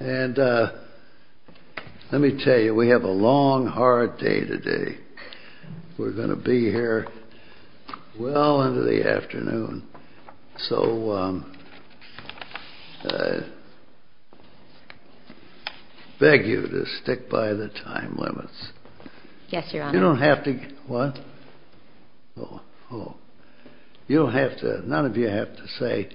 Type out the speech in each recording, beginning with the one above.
Let me tell you, we have a long, hard day today. We're going to be here well into the afternoon, so I beg you to stick by the time limits. You don't have to... None of you have to say,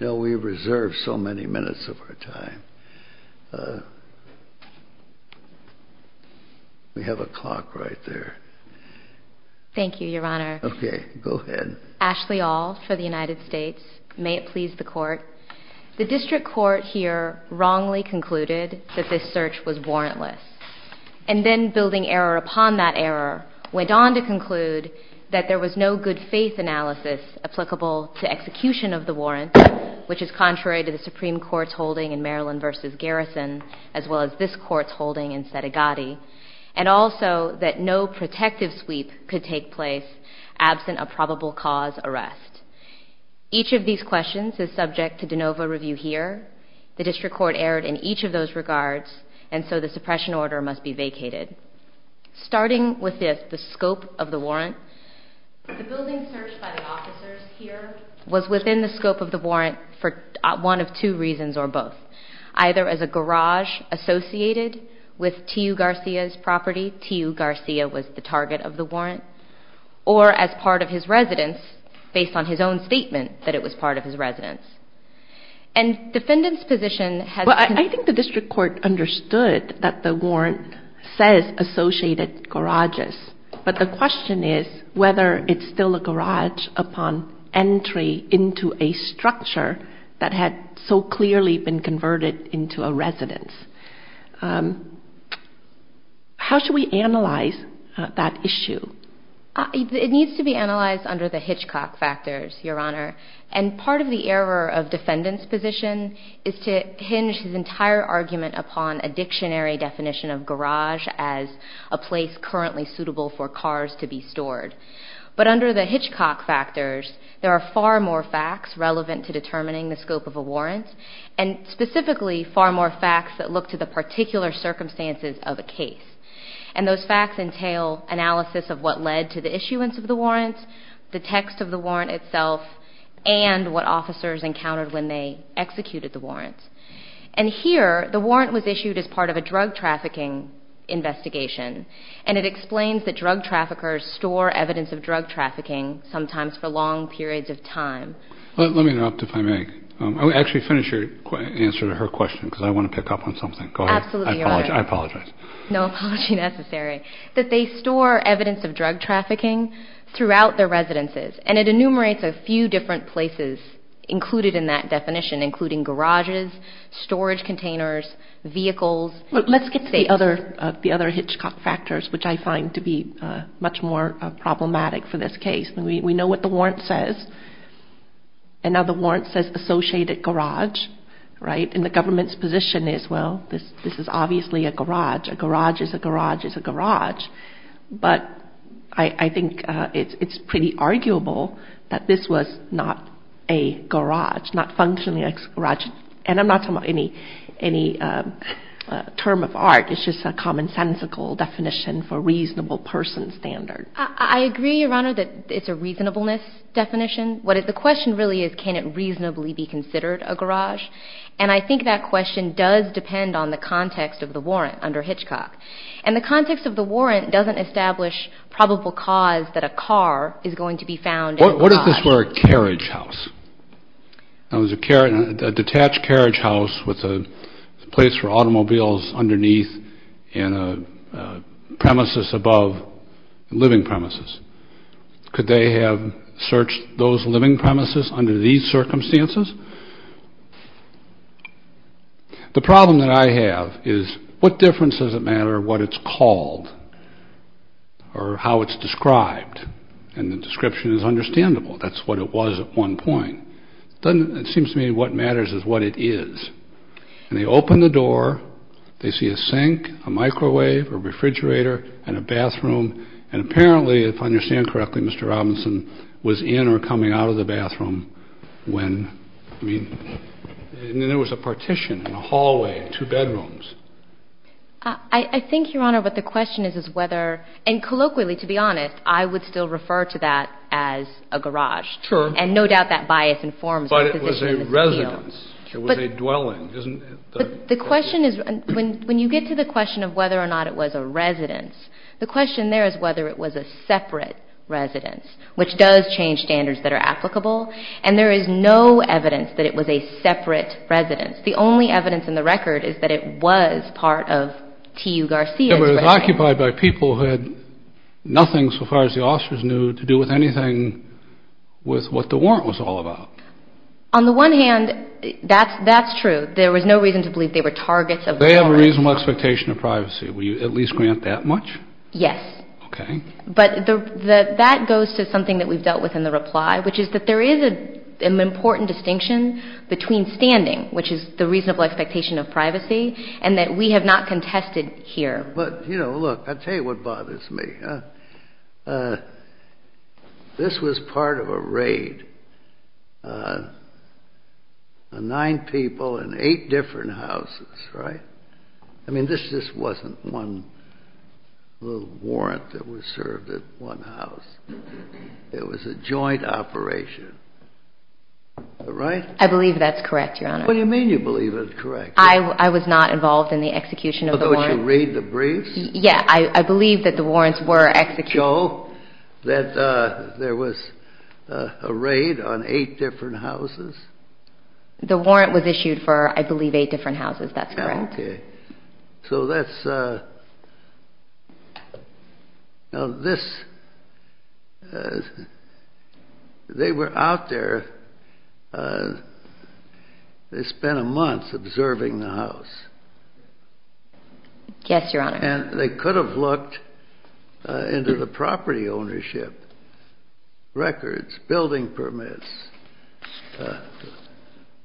no, we reserve so many minutes of our time. We have a clock right there. Thank you, Your Honor. Okay, go ahead. Ashley Aul for the United States. May it please the Court. The District Court here wrongly concluded that this search was warrantless. And then, building error upon that error, went on to conclude that there was no good-faith analysis applicable to execution of the warrant, which is contrary to the Supreme Court's holding in Maryland v. Garrison, as well as this Court's holding in Sedegatti, and also that no protective sweep could take place absent a probable cause arrest. Each of these questions is subject to de novo review here. The District Court erred in each of those regards, and so the suppression order must be vacated. Starting with this, the scope of the warrant, the building searched by the officers here was within the scope of the warrant for one of two reasons or both. Either as a garage associated with T.U. Garcia's property, T.U. Garcia was the target of the warrant, or as part of his residence based on his own statement that it was part of his residence. And defendant's position has... Well, I think the District Court understood that the warrant says associated garages, but the question is whether it's still a garage upon entry into a structure that had so clearly been converted into a residence. How should we analyze that issue? It needs to be analyzed under the Hitchcock factors, Your Honor. And part of the error of defendant's position is to hinge his entire argument upon a dictionary definition of garage as a place currently suitable for cars to be stored. But under the Hitchcock factors, there are far more facts relevant to determining the scope of a warrant, and specifically far more facts that look to the particular circumstances of a case. And those facts entail analysis of what led to the issuance of the warrant, the text of the warrant itself, and what officers encountered when they executed the warrant. And here, the warrant was issued as part of a drug trafficking investigation, and it explains that drug traffickers store evidence of drug trafficking sometimes for long periods of time. Let me interrupt if I may. Actually, finish your answer to her question because I want to pick up on something. Go ahead. Absolutely, Your Honor. I apologize. No apology necessary. That they store evidence of drug trafficking throughout their residences, and it enumerates a few different places included in that definition, including garages, storage containers, vehicles. Let's get to the other Hitchcock factors, which I find to be much more problematic for this case. We know what the warrant says, and now the warrant says associated garage, right? And the government's position is, well, this is obviously a garage. A garage is a garage is a garage. But I think it's pretty arguable that this was not a garage, not functionally a garage. And I'm not talking about any term of art. It's just a commonsensical definition for reasonable person standard. I agree, Your Honor, that it's a reasonableness definition. The question really is can it reasonably be considered a garage? And I think that question does depend on the context of the warrant under Hitchcock. And the context of the warrant doesn't establish probable cause that a car is going to be found in a garage. What if this were a carriage house? A detached carriage house with a place for automobiles underneath and a premises above, living premises. Could they have searched those living premises under these circumstances? The problem that I have is what difference does it matter what it's called or how it's described? And the description is understandable. That's what it was at one point. It seems to me what matters is what it is. And they open the door. They see a sink, a microwave, a refrigerator, and a bathroom. And apparently, if I understand correctly, Mr. Robinson was in or coming out of the bathroom when, I mean, and then there was a partition and a hallway, two bedrooms. I think, Your Honor, what the question is is whether, and colloquially, to be honest, I would still refer to that as a garage. Sure. And no doubt that bias informs the position in this field. But it was a residence. It was a dwelling. But the question is when you get to the question of whether or not it was a residence, the question there is whether it was a separate residence, which does change standards that are applicable. And there is no evidence that it was a separate residence. The only evidence in the record is that it was part of T.U. Garcia's residence. It was occupied by people who had nothing so far as the officers knew to do with anything with what the warrant was all about. On the one hand, that's true. There was no reason to believe they were targets of the warrant. They have a reasonable expectation of privacy. Will you at least grant that much? Yes. Okay. But that goes to something that we've dealt with in the reply, which is that there is an important distinction between standing, which is the reasonable expectation of privacy, and that we have not contested here. But, you know, look, I'll tell you what bothers me. This was part of a raid, nine people in eight different houses, right? I mean, this just wasn't one little warrant that was served at one house. It was a joint operation, right? I believe that's correct, Your Honor. What do you mean you believe it's correct? I was not involved in the execution of the warrant. Oh, don't you read the briefs? Yeah. I believe that the warrants were executed. Joe, that there was a raid on eight different houses? The warrant was issued for, I believe, eight different houses. That's correct. Okay. So that's, now this, they were out there, they spent a month observing the house. Yes, Your Honor. And they could have looked into the property ownership records, building permits,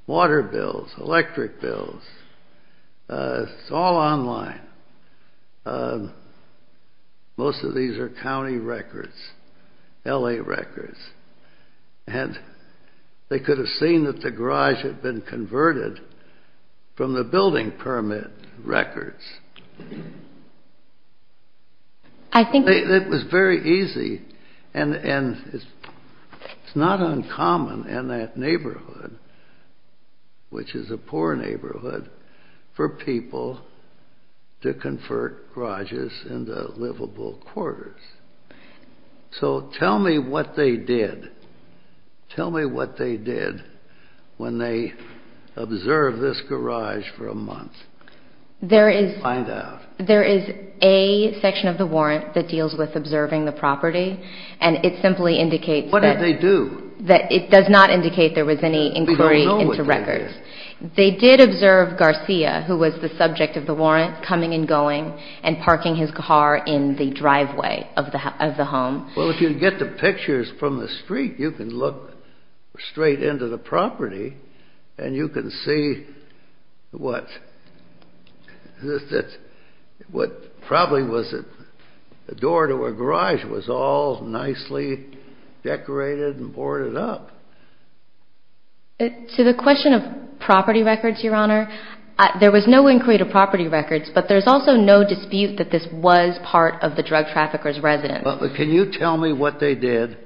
water bills, electric bills. It's all online. Most of these are county records, L.A. records. And they could have seen that the garage had been converted from the building permit records. It was very easy, and it's not uncommon in that neighborhood, which is a poor neighborhood, for people to convert garages into livable quarters. So tell me what they did. Tell me what they did when they observed this garage for a month. Find out. There is a section of the warrant that deals with observing the property, and it simply indicates that. What did they do? It does not indicate there was any inquiry into records. We don't know what they did. But they did observe Garcia, who was the subject of the warrant, coming and going and parking his car in the driveway of the home. Well, if you get the pictures from the street, you can look straight into the property, and you can see what probably was a door to a garage was all nicely decorated and boarded up. To the question of property records, Your Honor, there was no inquiry to property records, but there's also no dispute that this was part of the drug trafficker's residence. But can you tell me what they did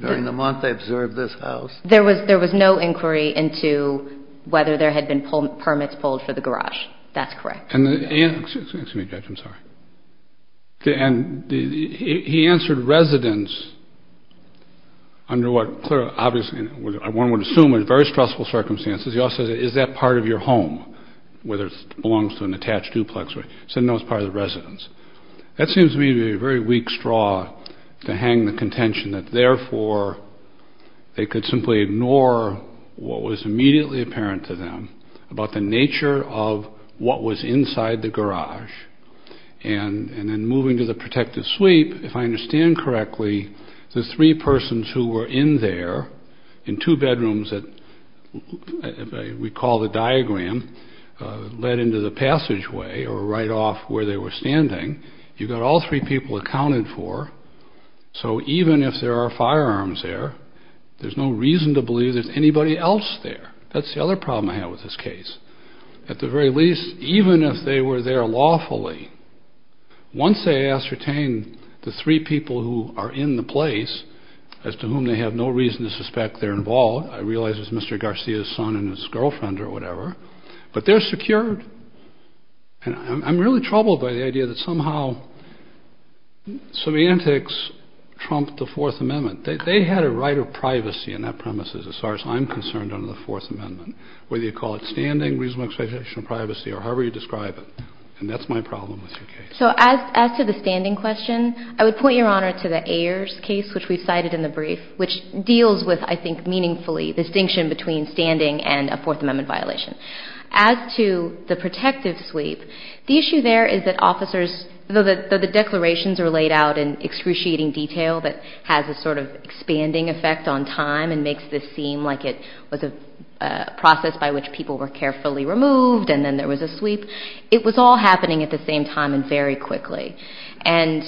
during the month they observed this house? There was no inquiry into whether there had been permits pulled for the garage. That's correct. Excuse me, Judge, I'm sorry. And he answered residence under what one would assume were very stressful circumstances. He also said, is that part of your home, whether it belongs to an attached duplex? He said, no, it's part of the residence. That seems to me to be a very weak straw to hang the contention that, therefore, they could simply ignore what was immediately apparent to them about the nature of what was inside the garage. And then moving to the protective sweep, if I understand correctly, the three persons who were in there in two bedrooms that we call the diagram, led into the passageway or right off where they were standing. You've got all three people accounted for. So even if there are firearms there, there's no reason to believe there's anybody else there. That's the other problem I have with this case. At the very least, even if they were there lawfully, once they ascertain the three people who are in the place as to whom they have no reason to suspect they're involved, I realize it's Mr. Garcia's son and his girlfriend or whatever, but they're secured. And I'm really troubled by the idea that somehow semantics trumped the Fourth Amendment. They had a right of privacy in that premises. As far as I'm concerned under the Fourth Amendment, whether you call it standing, reasonable expectation of privacy, or however you describe it, and that's my problem with your case. So as to the standing question, I would point Your Honor to the Ayers case, which we cited in the brief, which deals with, I think, meaningfully distinction between standing and a Fourth Amendment violation. As to the protective sweep, the issue there is that officers, though the declarations are laid out in excruciating detail that has a sort of expanding effect on time and makes this seem like it was a process by which people were carefully removed and then there was a sweep, it was all happening at the same time and very quickly. And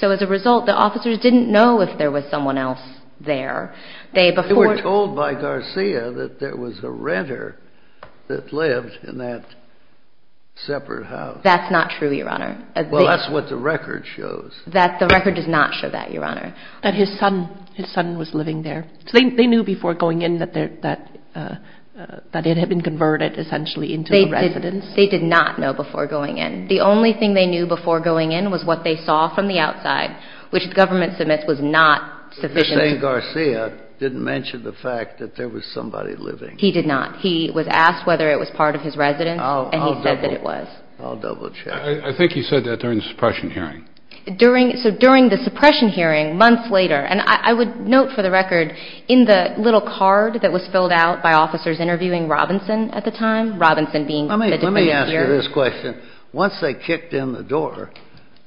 so as a result, the officers didn't know if there was someone else there. They were told by Garcia that there was a renter that lived in that separate house. That's not true, Your Honor. Well, that's what the record shows. The record does not show that, Your Honor. That his son was living there. They knew before going in that it had been converted, essentially, into a residence. They did not know before going in. The only thing they knew before going in was what they saw from the outside, which the government submits was not sufficient. But you're saying Garcia didn't mention the fact that there was somebody living. He did not. He was asked whether it was part of his residence, and he said that it was. I'll double-check. I think he said that during the suppression hearing. So during the suppression hearing, months later, and I would note for the record in the little card that was filled out by officers interviewing Robinson at the time, Robinson being the defendant here. Let me answer this question. Once they kicked in the door,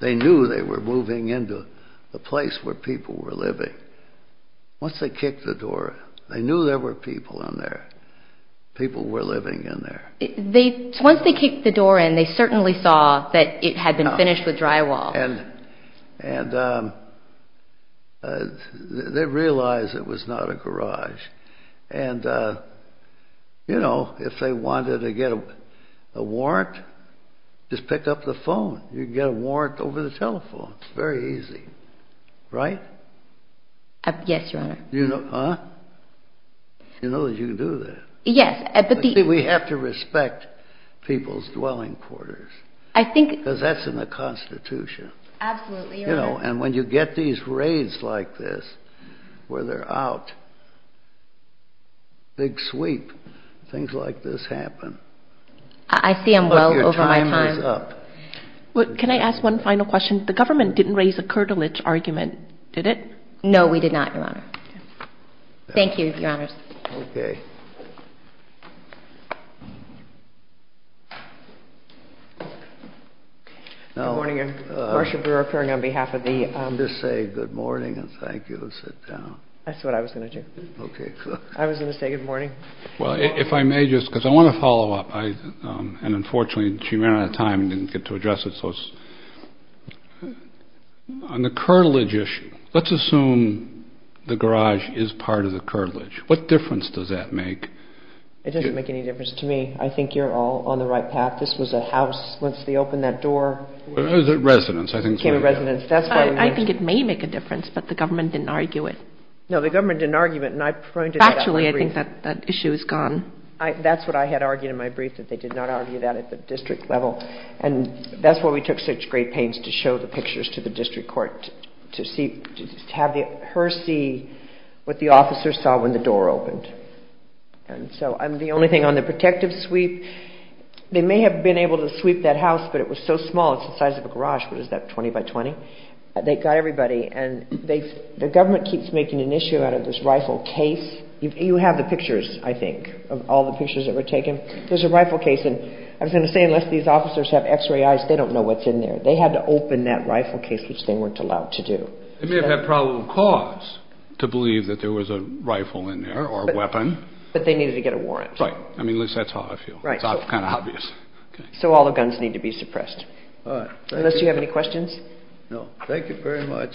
they knew they were moving into the place where people were living. Once they kicked the door, they knew there were people in there, people were living in there. Once they kicked the door in, they certainly saw that it had been finished with drywall. They realized it was not a garage. If they wanted to get a warrant, just pick up the phone. You can get a warrant over the telephone. It's very easy. Right? Yes, Your Honor. You know that you can do that. Yes. We have to respect people's dwelling quarters. Because that's in the Constitution. Absolutely, Your Honor. And when you get these raids like this, where they're out, big sweep, things like this happen. I see them well over my time. Can I ask one final question? The government didn't raise a curtilage argument, did it? No, we did not, Your Honor. Thank you, Your Honors. Okay. Thank you. Good morning, Your Worship. We're occurring on behalf of the… Just say good morning and thank you and sit down. That's what I was going to do. Okay, good. I was going to say good morning. Well, if I may just, because I want to follow up. And unfortunately, she ran out of time and didn't get to address it. On the curtilage issue, let's assume the garage is part of the curtilage. What difference does that make? It doesn't make any difference to me. I think you're all on the right path. This was a house. Once they opened that door… It was a residence, I think. …it became a residence. I think it may make a difference, but the government didn't argue it. No, the government didn't argue it. Factually, I think that issue is gone. That's what I had argued in my brief, that they did not argue that at the district level. And that's why we took such great pains to show the pictures to the district court, to have her see what the officers saw when the door opened. And so the only thing on the protective sweep, they may have been able to sweep that house, but it was so small, it's the size of a garage. What is that, 20 by 20? They got everybody, and the government keeps making an issue out of this rifle case. You have the pictures, I think, of all the pictures that were taken. There's a rifle case, and I was going to say, unless these officers have X-ray eyes, they don't know what's in there. They had to open that rifle case, which they weren't allowed to do. They may have had probable cause to believe that there was a rifle in there or a weapon. But they needed to get a warrant. Right. I mean, at least that's how I feel. It's kind of obvious. So all the guns need to be suppressed. All right. Thank you. Unless you have any questions? No. Thank you very much.